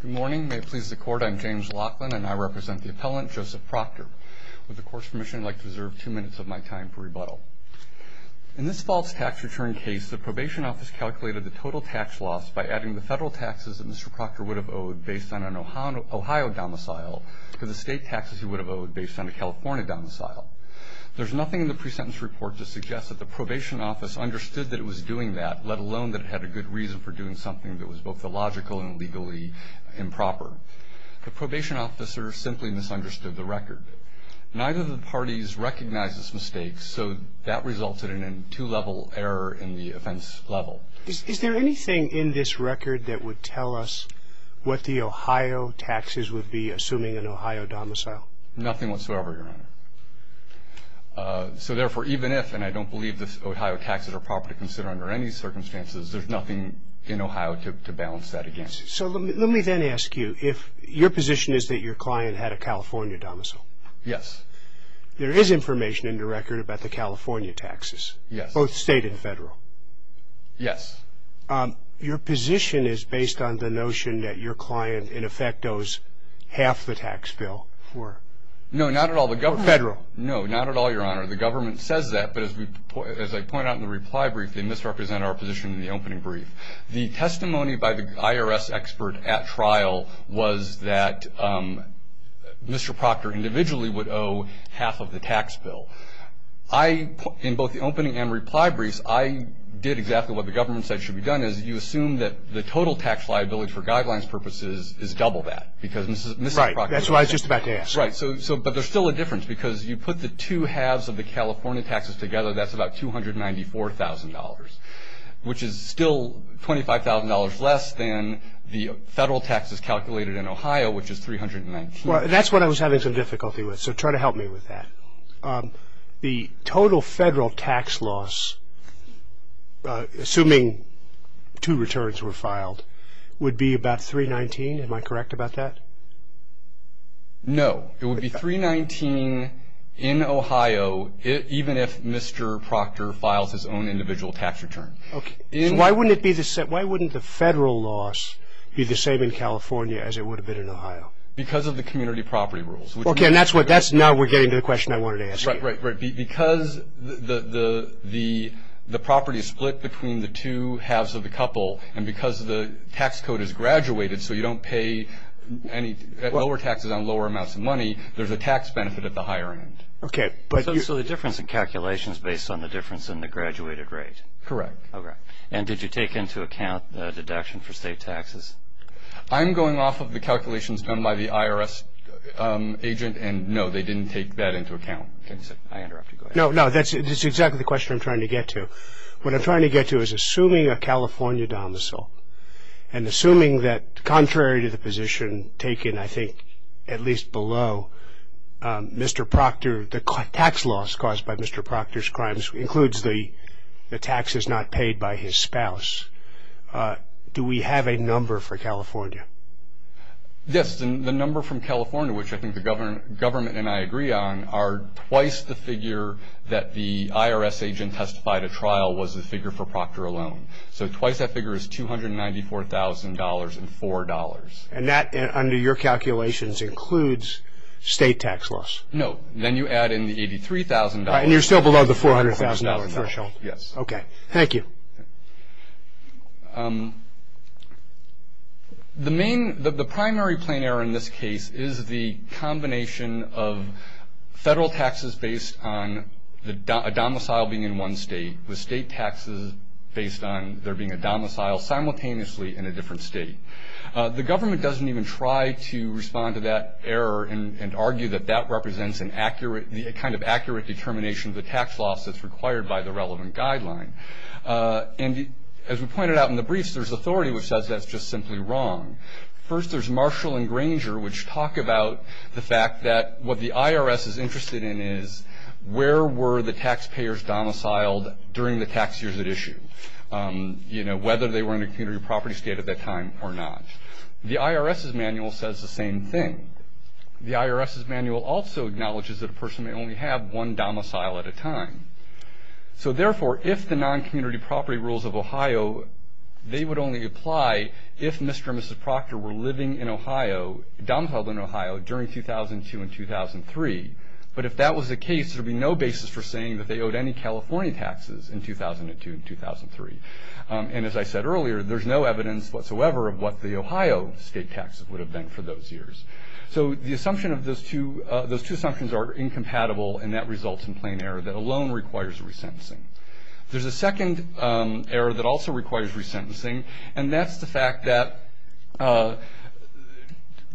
Good morning. May it please the court, I'm James Laughlin and I represent the appellant Joseph Proctor. With the court's permission, I'd like to reserve two minutes of my time for rebuttal. In this false tax return case, the probation office calculated the total tax loss by adding the federal taxes that Mr. Proctor would have owed based on an Ohio domicile to the state taxes he would have owed based on a California domicile. There's nothing in the pre-sentence report to suggest that the probation office understood that it was doing that, let alone that it had a good reason for doing something that was both illogical and legally improper. The probation officer simply misunderstood the record. Neither of the parties recognized this mistake, so that resulted in a two-level error in the offense level. Is there anything in this record that would tell us what the Ohio taxes would be, assuming an Ohio domicile? Nothing whatsoever, Your Honor. So therefore, even if, and I don't believe the Ohio taxes are proper to consider under any circumstances, there's nothing in Ohio to balance that against. So let me then ask you, if your position is that your client had a California domicile? Yes. There is information in the record about the California taxes? Yes. Both state and federal? Yes. Your position is based on the notion that your client, in effect, owes half the tax bill? No, not at all. Federal? No, not at all, Your Honor. The government says that, but as I pointed out in the reply brief, they misrepresented our position in the opening brief. The testimony by the IRS expert at trial was that Mr. Proctor individually would owe half of the tax bill. In both the opening and reply briefs, I did exactly what the government said should be done, is you assume that the total tax liability for guidelines purposes is double that, because Mr. Proctor owes half. Right. That's what I was just about to ask. Right. But there's still a difference, because you put the two halves of the California taxes together, that's about $294,000, which is still $25,000 less than the federal taxes calculated in Ohio, which is 319. Well, that's what I was having some difficulty with, so try to help me with that. The total federal tax loss, assuming two returns were filed, would be about 319. Am I correct about that? No. It would be 319 in Ohio, even if Mr. Proctor files his own individual tax return. Okay. Why wouldn't the federal loss be the same in California as it would have been in Ohio? Because of the community property rules. Okay. Now we're getting to the question I wanted to ask you. Right. Because the property is split between the two halves of the couple, and because the tax code is graduated so you don't pay any lower taxes on lower amounts of money, there's a tax benefit at the higher end. Okay. So the difference in calculation is based on the difference in the graduated rate? Correct. Okay. And did you take into account the deduction for state taxes? I'm going off of the calculations done by the IRS agent, and, no, they didn't take that into account. I interrupted. No, no, that's exactly the question I'm trying to get to. What I'm trying to get to is, assuming a California domicile, and assuming that contrary to the position taken, I think, at least below, Mr. Proctor, the tax loss caused by Mr. Proctor's crimes includes the taxes not paid by his spouse, do we have a number for California? Yes. The number from California, which I think the government and I agree on, are twice the figure that the IRS agent testified at trial was the figure for Proctor alone. So twice that figure is $294,000 and $4. And that, under your calculations, includes state tax loss? No. Then you add in the $83,000. And you're still below the $400,000 threshold? Yes. Okay. Thank you. The primary plain error in this case is the combination of federal taxes based on a domicile being in one state with state taxes based on there being a domicile simultaneously in a different state. The government doesn't even try to respond to that error and argue that that represents a kind of accurate determination of the tax loss that's required by the relevant guideline. And as we pointed out in the briefs, there's authority which says that's just simply wrong. First, there's Marshall and Granger, which talk about the fact that what the IRS is interested in is where were the taxpayers domiciled during the tax years at issue, you know, whether they were in a community property state at that time or not. The IRS's manual says the same thing. The IRS's manual also acknowledges that a person may only have one domicile at a time. So, therefore, if the non-community property rules of Ohio, they would only apply if Mr. and Mrs. Proctor were living in Ohio, domiciled in Ohio, during 2002 and 2003. But if that was the case, there would be no basis for saying that they owed any California taxes in 2002 and 2003. And as I said earlier, there's no evidence whatsoever of what the Ohio state taxes would have been for those years. So the assumption of those two assumptions are incompatible, and that results in plain error that alone requires resentencing. There's a second error that also requires resentencing, and that's the fact that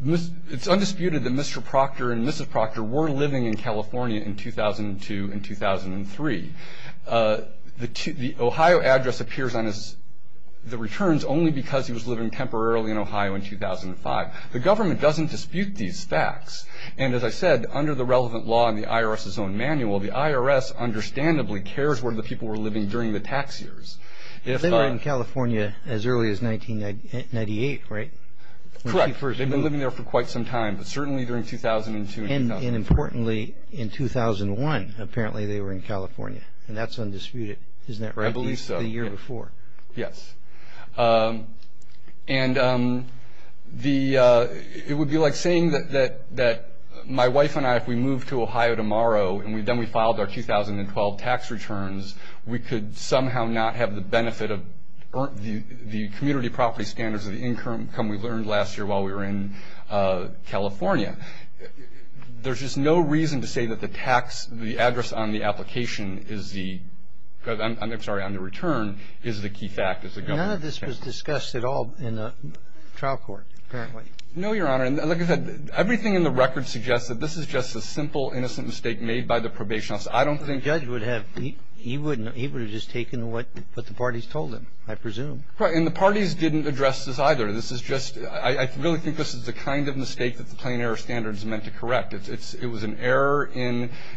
it's undisputed that Mr. Proctor and Mrs. Proctor were living in California in 2002 and 2003. The Ohio address appears on the returns only because he was living temporarily in Ohio in 2005. The government doesn't dispute these facts. And as I said, under the relevant law in the IRS's own manual, the IRS understandably cares where the people were living during the tax years. They were in California as early as 1998, right? Correct. They've been living there for quite some time, but certainly during 2002 and 2003. And importantly, in 2001, apparently they were in California, and that's undisputed. Isn't that right? I believe so. At least the year before. Yes. And it would be like saying that my wife and I, if we moved to Ohio tomorrow, and then we filed our 2012 tax returns, we could somehow not have the benefit of the community property standards of the income we learned last year while we were in California. There's just no reason to say that the tax, the address on the application is the ‑‑ I'm sorry, on the return is the key fact. None of this was discussed at all in the trial court, apparently. No, Your Honor. Like I said, everything in the record suggests that this is just a simple, innocent mistake made by the probation office. I don't think ‑‑ The judge would have ‑‑ he would have just taken what the parties told him, I presume. Right. And the parties didn't address this either. This is just ‑‑ I really think this is the kind of mistake that the plain error standard is meant to correct. It was an error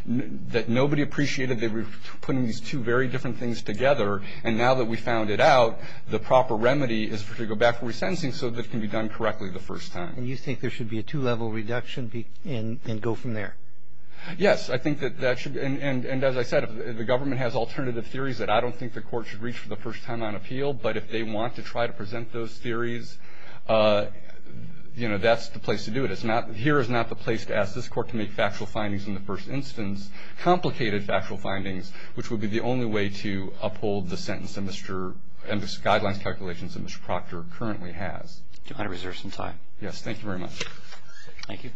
that nobody appreciated. They were putting these two very different things together, and now that we found it out, the proper remedy is to go back to resentencing so that it can be done correctly the first time. And you think there should be a two‑level reduction and go from there? Yes. I think that that should ‑‑ and as I said, the government has alternative theories that I don't think the court should reach for the first time on appeal, but if they want to try to present those theories, you know, that's the place to do it. It's not ‑‑ here is not the place to ask this court to make factual findings in the first instance, complicated factual findings, which would be the only way to uphold the sentence and Mr. ‑‑ and the guidelines calculations that Mr. Proctor currently has. Your Honor, is there some time? Yes. Thank you very much. Thank you.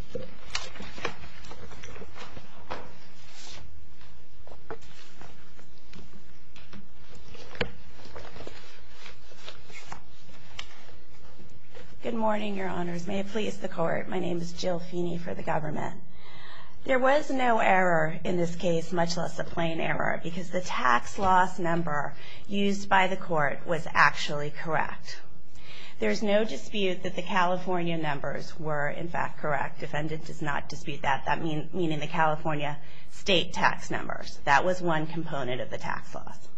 Good morning, Your Honors. May it please the court, my name is Jill Feeney for the government. There was no error in this case, much less a plain error, because the tax loss number used by the court was actually correct. There is no dispute that the California numbers were, in fact, correct. Defendant does not dispute that, meaning the California state tax numbers. That was one component of the tax loss.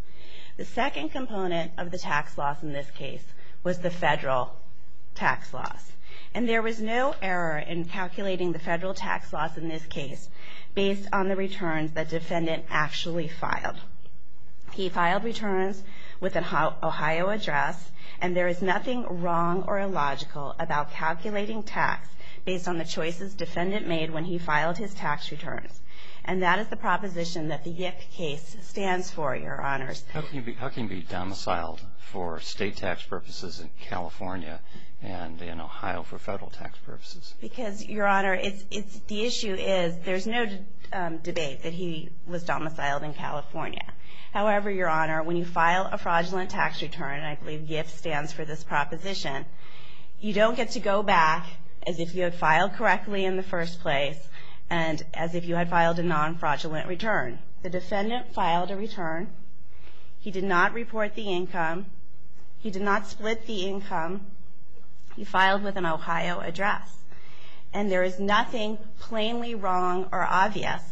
The second component of the tax loss in this case was the federal tax loss. And there was no error in calculating the federal tax loss in this case based on the returns that defendant actually filed. He filed returns with an Ohio address, and there is nothing wrong or illogical about calculating tax based on the choices defendant made when he filed his tax returns. And that is the proposition that the YIF case stands for, Your Honors. How can he be domiciled for state tax purposes in California and in Ohio for federal tax purposes? Because, Your Honor, the issue is there's no debate that he was domiciled in California. However, Your Honor, when you file a fraudulent tax return, I believe YIF stands for this proposition, you don't get to go back as if you had filed correctly in the first place and as if you had filed a non-fraudulent return. The defendant filed a return. He did not report the income. He did not split the income. He filed with an Ohio address. And there is nothing plainly wrong or obvious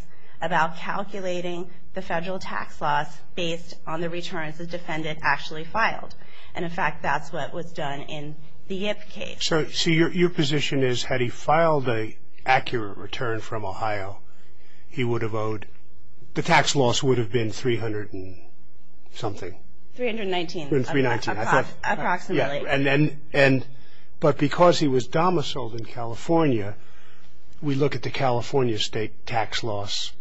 about calculating the federal tax loss based on the returns the defendant actually filed. And, in fact, that's what was done in the YIF case. So your position is had he filed an accurate return from Ohio, he would have owed, the tax loss would have been $300 and something. $319. Approximately. But because he was domiciled in California, we look at the California state tax loss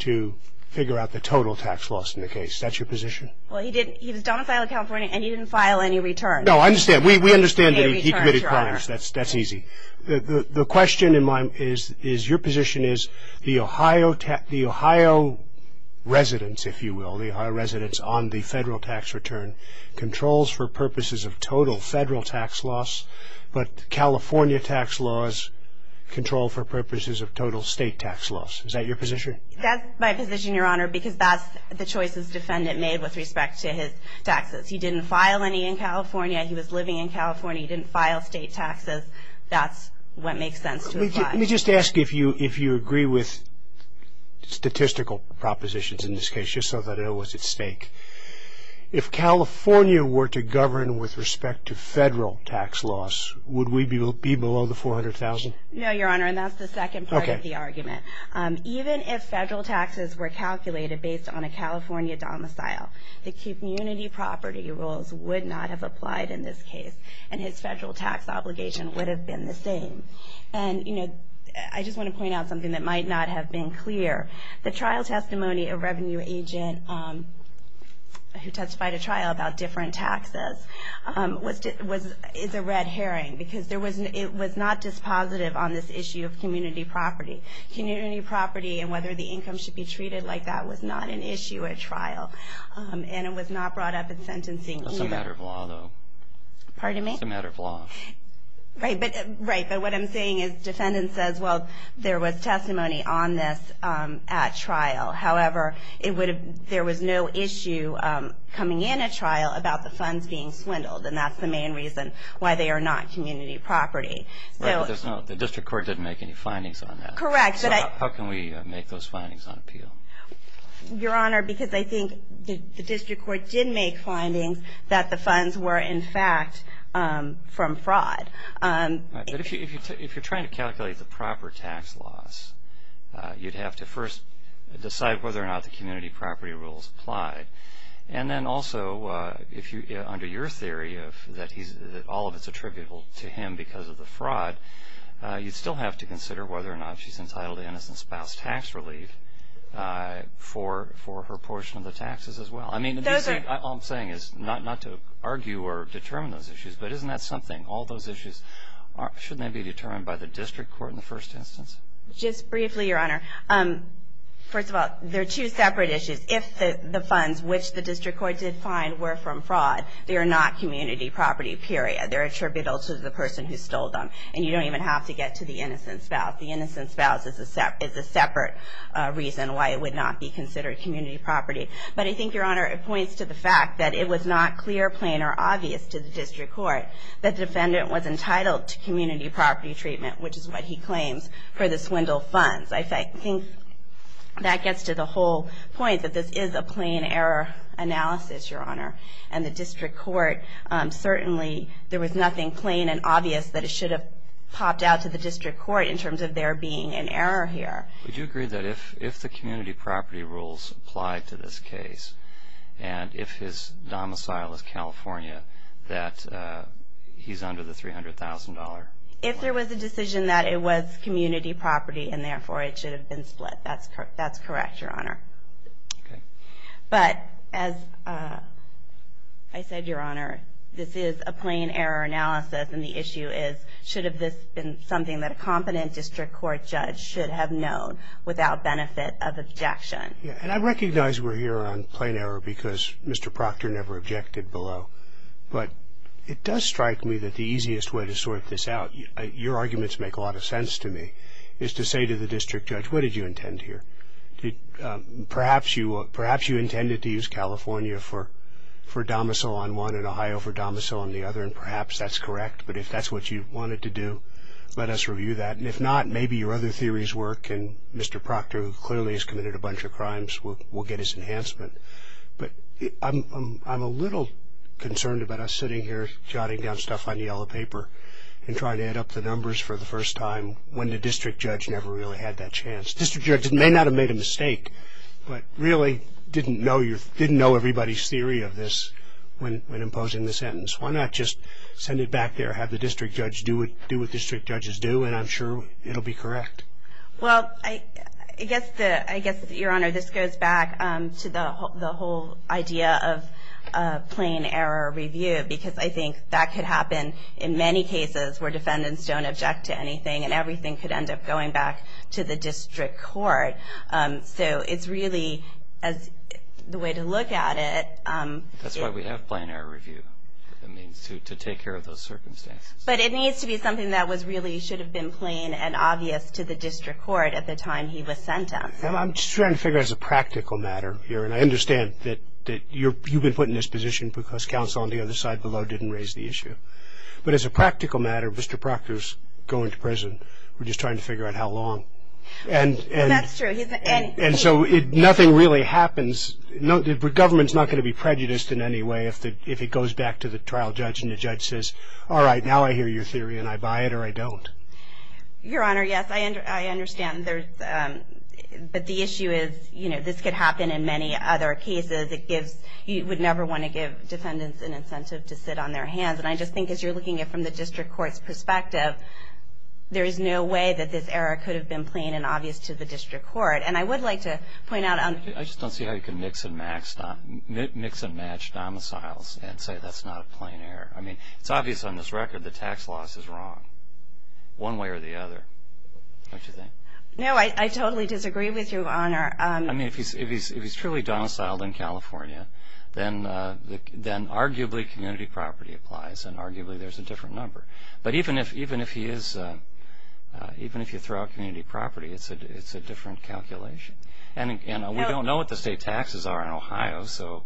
to figure out the total tax loss in the case. That's your position? Well, he was domiciled in California and he didn't file any returns. No, I understand. We understand that he committed crimes. That's easy. The question in my mind is your position is the Ohio residents, if you will, the Ohio residents on the federal tax return, controls for purposes of total federal tax loss, but California tax laws control for purposes of total state tax loss. Is that your position? That's my position, Your Honor, because that's the choices the defendant made with respect to his taxes. He didn't file any in California. He was living in California. He didn't file state taxes. That's what makes sense to apply. Let me just ask if you agree with statistical propositions in this case, just so that I know what's at stake. If California were to govern with respect to federal tax loss, would we be below the $400,000? No, Your Honor, and that's the second part of the argument. Even if federal taxes were calculated based on a California domicile, the community property rules would not have applied in this case, and his federal tax obligation would have been the same. And, you know, I just want to point out something that might not have been clear. The trial testimony of a revenue agent who testified at trial about different taxes is a red herring because it was not dispositive on this issue of community property. Community property and whether the income should be treated like that was not an issue at trial. And it was not brought up in sentencing either. That's a matter of law, though. Pardon me? It's a matter of law. Right, but what I'm saying is the defendant says, well, there was testimony on this at trial. However, there was no issue coming in at trial about the funds being swindled, and that's the main reason why they are not community property. Right, but the district court didn't make any findings on that. Correct. So how can we make those findings on appeal? Your Honor, because I think the district court did make findings that the funds were, in fact, from fraud. Right, but if you're trying to calculate the proper tax loss, you'd have to first decide whether or not the community property rules applied. And then also, under your theory that all of it's attributable to him because of the fraud, you'd still have to consider whether or not she's entitled to innocent spouse tax relief for her portion of the taxes as well. I mean, all I'm saying is not to argue or determine those issues, but isn't that something? All those issues, shouldn't they be determined by the district court in the first instance? Just briefly, Your Honor, first of all, they're two separate issues. If the funds, which the district court did find, were from fraud, they are not community property, period. They're attributable to the person who stole them. And you don't even have to get to the innocent spouse. The innocent spouse is a separate reason why it would not be considered community property. But I think, Your Honor, it points to the fact that it was not clear, plain, or obvious to the district court that the defendant was entitled to community property treatment, which is what he claims, for the swindle funds. I think that gets to the whole point that this is a plain error analysis, Your Honor. And the district court, certainly there was nothing plain and obvious that it should have popped out to the district court in terms of there being an error here. Would you agree that if the community property rules applied to this case, and if his domicile is California, that he's under the $300,000? If there was a decision that it was community property, and therefore it should have been split, that's correct, Your Honor. Okay. But as I said, Your Honor, this is a plain error analysis, and the issue is should have this been something that a competent district court judge should have known without benefit of objection? Yeah, and I recognize we're here on plain error because Mr. Proctor never objected below. But it does strike me that the easiest way to sort this out, your arguments make a lot of sense to me, is to say to the district judge, what did you intend here? Perhaps you intended to use California for domicile on one and Ohio for domicile on the other, and perhaps that's correct. But if that's what you wanted to do, let us review that. And if not, maybe your other theories work, and Mr. Proctor, who clearly has committed a bunch of crimes, will get his enhancement. But I'm a little concerned about us sitting here jotting down stuff on yellow paper and trying to add up the numbers for the first time when the district judge never really had that chance. The district judge may not have made a mistake, but really didn't know everybody's theory of this when imposing the sentence. Why not just send it back there, have the district judge do what district judges do, and I'm sure it'll be correct. Well, I guess, Your Honor, this goes back to the whole idea of plain error review, because I think that could happen in many cases where defendants don't object to anything, and everything could end up going back to the district court. So it's really the way to look at it. That's why we have plain error review, to take care of those circumstances. But it needs to be something that really should have been plain and obvious to the district court at the time he was sentenced. I'm just trying to figure out as a practical matter here, and I understand that you've been put in this position because counsel on the other side below didn't raise the issue. But as a practical matter, Mr. Proctor's going to prison. We're just trying to figure out how long. That's true. And so nothing really happens. The government's not going to be prejudiced in any way if it goes back to the trial judge and the judge says, all right, now I hear your theory, and I buy it or I don't. Your Honor, yes, I understand. But the issue is this could happen in many other cases. You would never want to give defendants an incentive to sit on their hands, and I just think as you're looking at it from the district court's perspective, there is no way that this error could have been plain and obvious to the district court. And I would like to point out on the… I just don't see how you can mix and match domiciles and say that's not a plain error. I mean, it's obvious on this record the tax loss is wrong, one way or the other, don't you think? No, I totally disagree with you, Your Honor. I mean, if he's truly domiciled in California, then arguably community property applies, and arguably there's a different number. But even if you throw out community property, it's a different calculation. And we don't know what the state taxes are in Ohio, so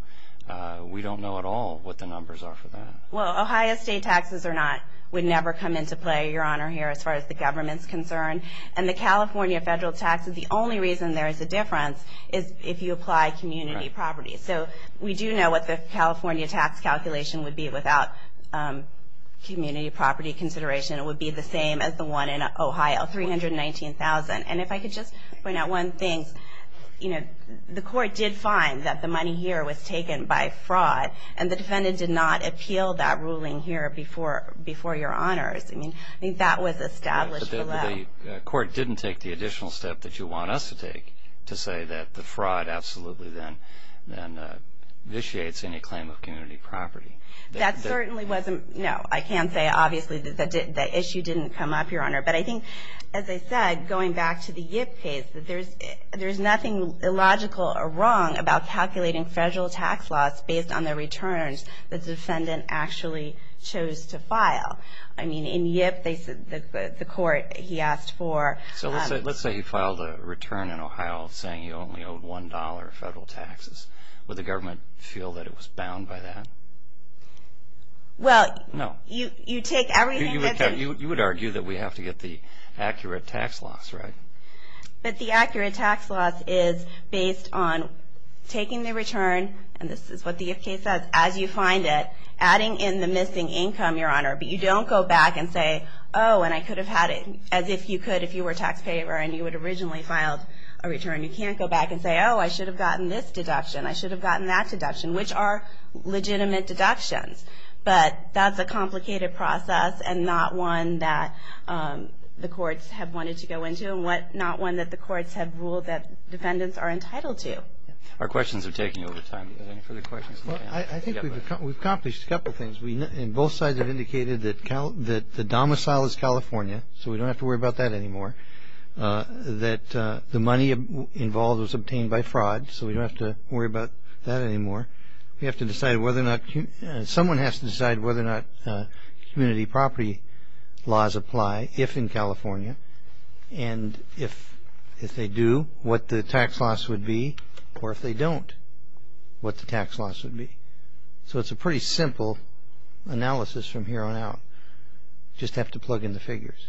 we don't know at all what the numbers are for that. Well, Ohio state taxes or not would never come into play, Your Honor, here, as far as the government's concerned. And the California federal taxes, the only reason there is a difference is if you apply community property. So we do know what the California tax calculation would be without community property consideration. It would be the same as the one in Ohio, $319,000. And if I could just point out one thing, you know, the court did find that the money here was taken by fraud, and the defendant did not appeal that ruling here before your honors. I mean, that was established below. But the court didn't take the additional step that you want us to take to say that the fraud absolutely then vitiates any claim of community property. That certainly wasn't, no. I can say, obviously, that the issue didn't come up, Your Honor. But I think, as I said, going back to the Yip case, that there's nothing illogical or wrong about calculating federal tax laws based on the returns the defendant actually chose to file. I mean, in Yip, the court, he asked for... So let's say you filed a return in Ohio saying you only owed $1 federal taxes. Would the government feel that it was bound by that? Well, you take everything that... You would argue that we have to get the accurate tax laws, right? But the accurate tax laws is based on taking the return, and this is what the Yip case says, as you find it, adding in the missing income, Your Honor. But you don't go back and say, oh, and I could have had it, as if you could if you were a taxpayer and you had originally filed a return. You can't go back and say, oh, I should have gotten this deduction, I should have gotten that deduction, which are legitimate deductions. But that's a complicated process and not one that the courts have wanted to go into and not one that the courts have ruled that defendants are entitled to. Our questions are taking over time. Are there any further questions? Well, I think we've accomplished a couple of things, and both sides have indicated that the domicile is California, so we don't have to worry about that anymore, that the money involved was obtained by fraud, so we don't have to worry about that anymore. We have to decide whether or not... Someone has to decide whether or not community property laws apply, if in California, and if they do, what the tax loss would be, or if they don't, what the tax loss would be. So it's a pretty simple analysis from here on out. You just have to plug in the figures.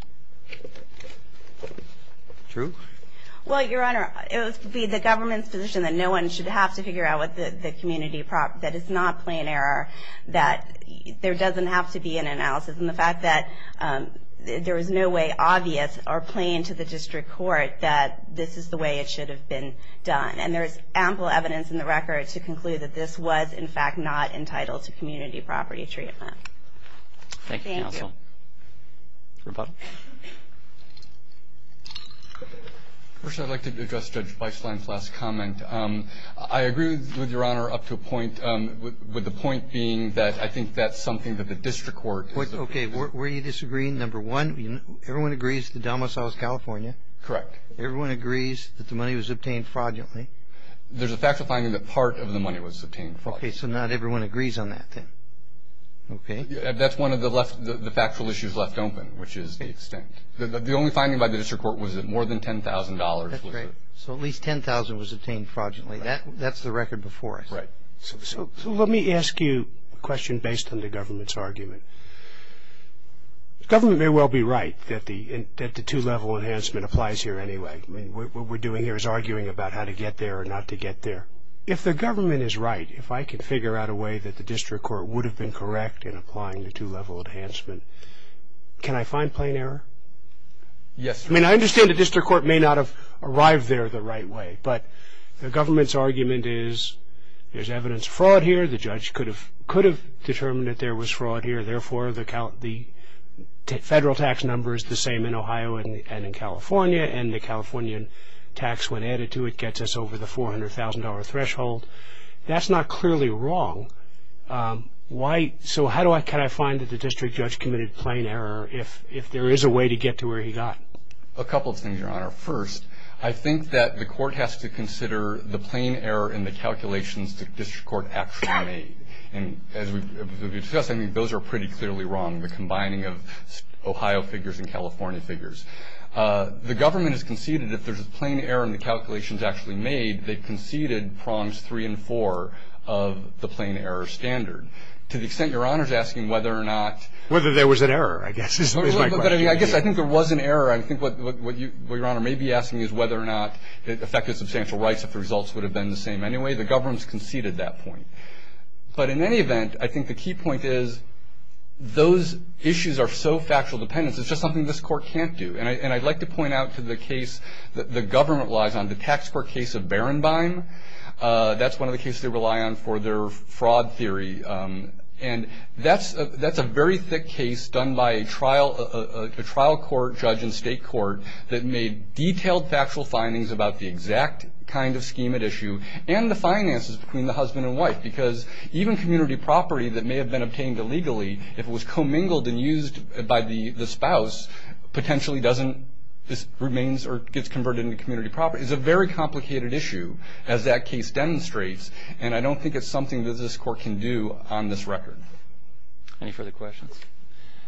True? Well, Your Honor, it would be the government's position that no one should have to figure out what the community property... that it's not plain error, that there doesn't have to be an analysis, and the fact that there is no way obvious or plain to the district court that this is the way it should have been done. And there is ample evidence in the record to conclude that this was, in fact, not entitled to community property treatment. Thank you, counsel. Thank you. Rebuttal? First, I'd like to address Judge Weisslein's last comment. I agree with Your Honor up to a point, with the point being that I think that's something that the district court... Okay. Where are you disagreeing? Number one, everyone agrees to Delma, South California. Correct. Everyone agrees that the money was obtained fraudulently. There's a factual finding that part of the money was obtained fraudulently. Okay. So not everyone agrees on that, then. Okay. That's one of the factual issues left open, which is the extent. The only finding by the district court was that more than $10,000 was... That's right. So at least $10,000 was obtained fraudulently. That's the record before us. That's right. So let me ask you a question based on the government's argument. The government may well be right that the two-level enhancement applies here anyway. I mean, what we're doing here is arguing about how to get there or not to get there. If the government is right, if I could figure out a way that the district court would have been correct in applying the two-level enhancement, can I find plain error? Yes. I mean, I understand the district court may not have arrived there the right way, but the government's argument is there's evidence of fraud here. The judge could have determined that there was fraud here. Therefore, the federal tax number is the same in Ohio and in California, and the Californian tax, when added to it, gets us over the $400,000 threshold. That's not clearly wrong. So how can I find that the district judge committed plain error if there is a way to get to where he got? A couple of things, Your Honor. First, I think that the court has to consider the plain error in the calculations the district court actually made. And as we've discussed, I mean, those are pretty clearly wrong, the combining of Ohio figures and California figures. The government has conceded if there's a plain error in the calculations actually made, they've conceded prongs three and four of the plain error standard. To the extent Your Honor's asking whether or not ---- Whether there was an error, I guess, is my question. But, I mean, I guess I think there was an error. I think what Your Honor may be asking is whether or not it affected substantial rights if the results would have been the same anyway. The government has conceded that point. But in any event, I think the key point is those issues are so factual dependence, it's just something this court can't do. And I'd like to point out to the case that the government relies on, the tax court case of Barrenbine. That's one of the cases they rely on for their fraud theory. And that's a very thick case done by a trial court, judge and state court that made detailed factual findings about the exact kind of schemate issue and the finances between the husband and wife. Because even community property that may have been obtained illegally, if it was commingled and used by the spouse, potentially doesn't remain or gets converted into community property. It's a very complicated issue as that case demonstrates. And I don't think it's something that this court can do on this record. Any further questions?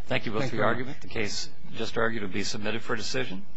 Thank you both for your argument. Thank you, Your Honor. The case just argued will be submitted for decision.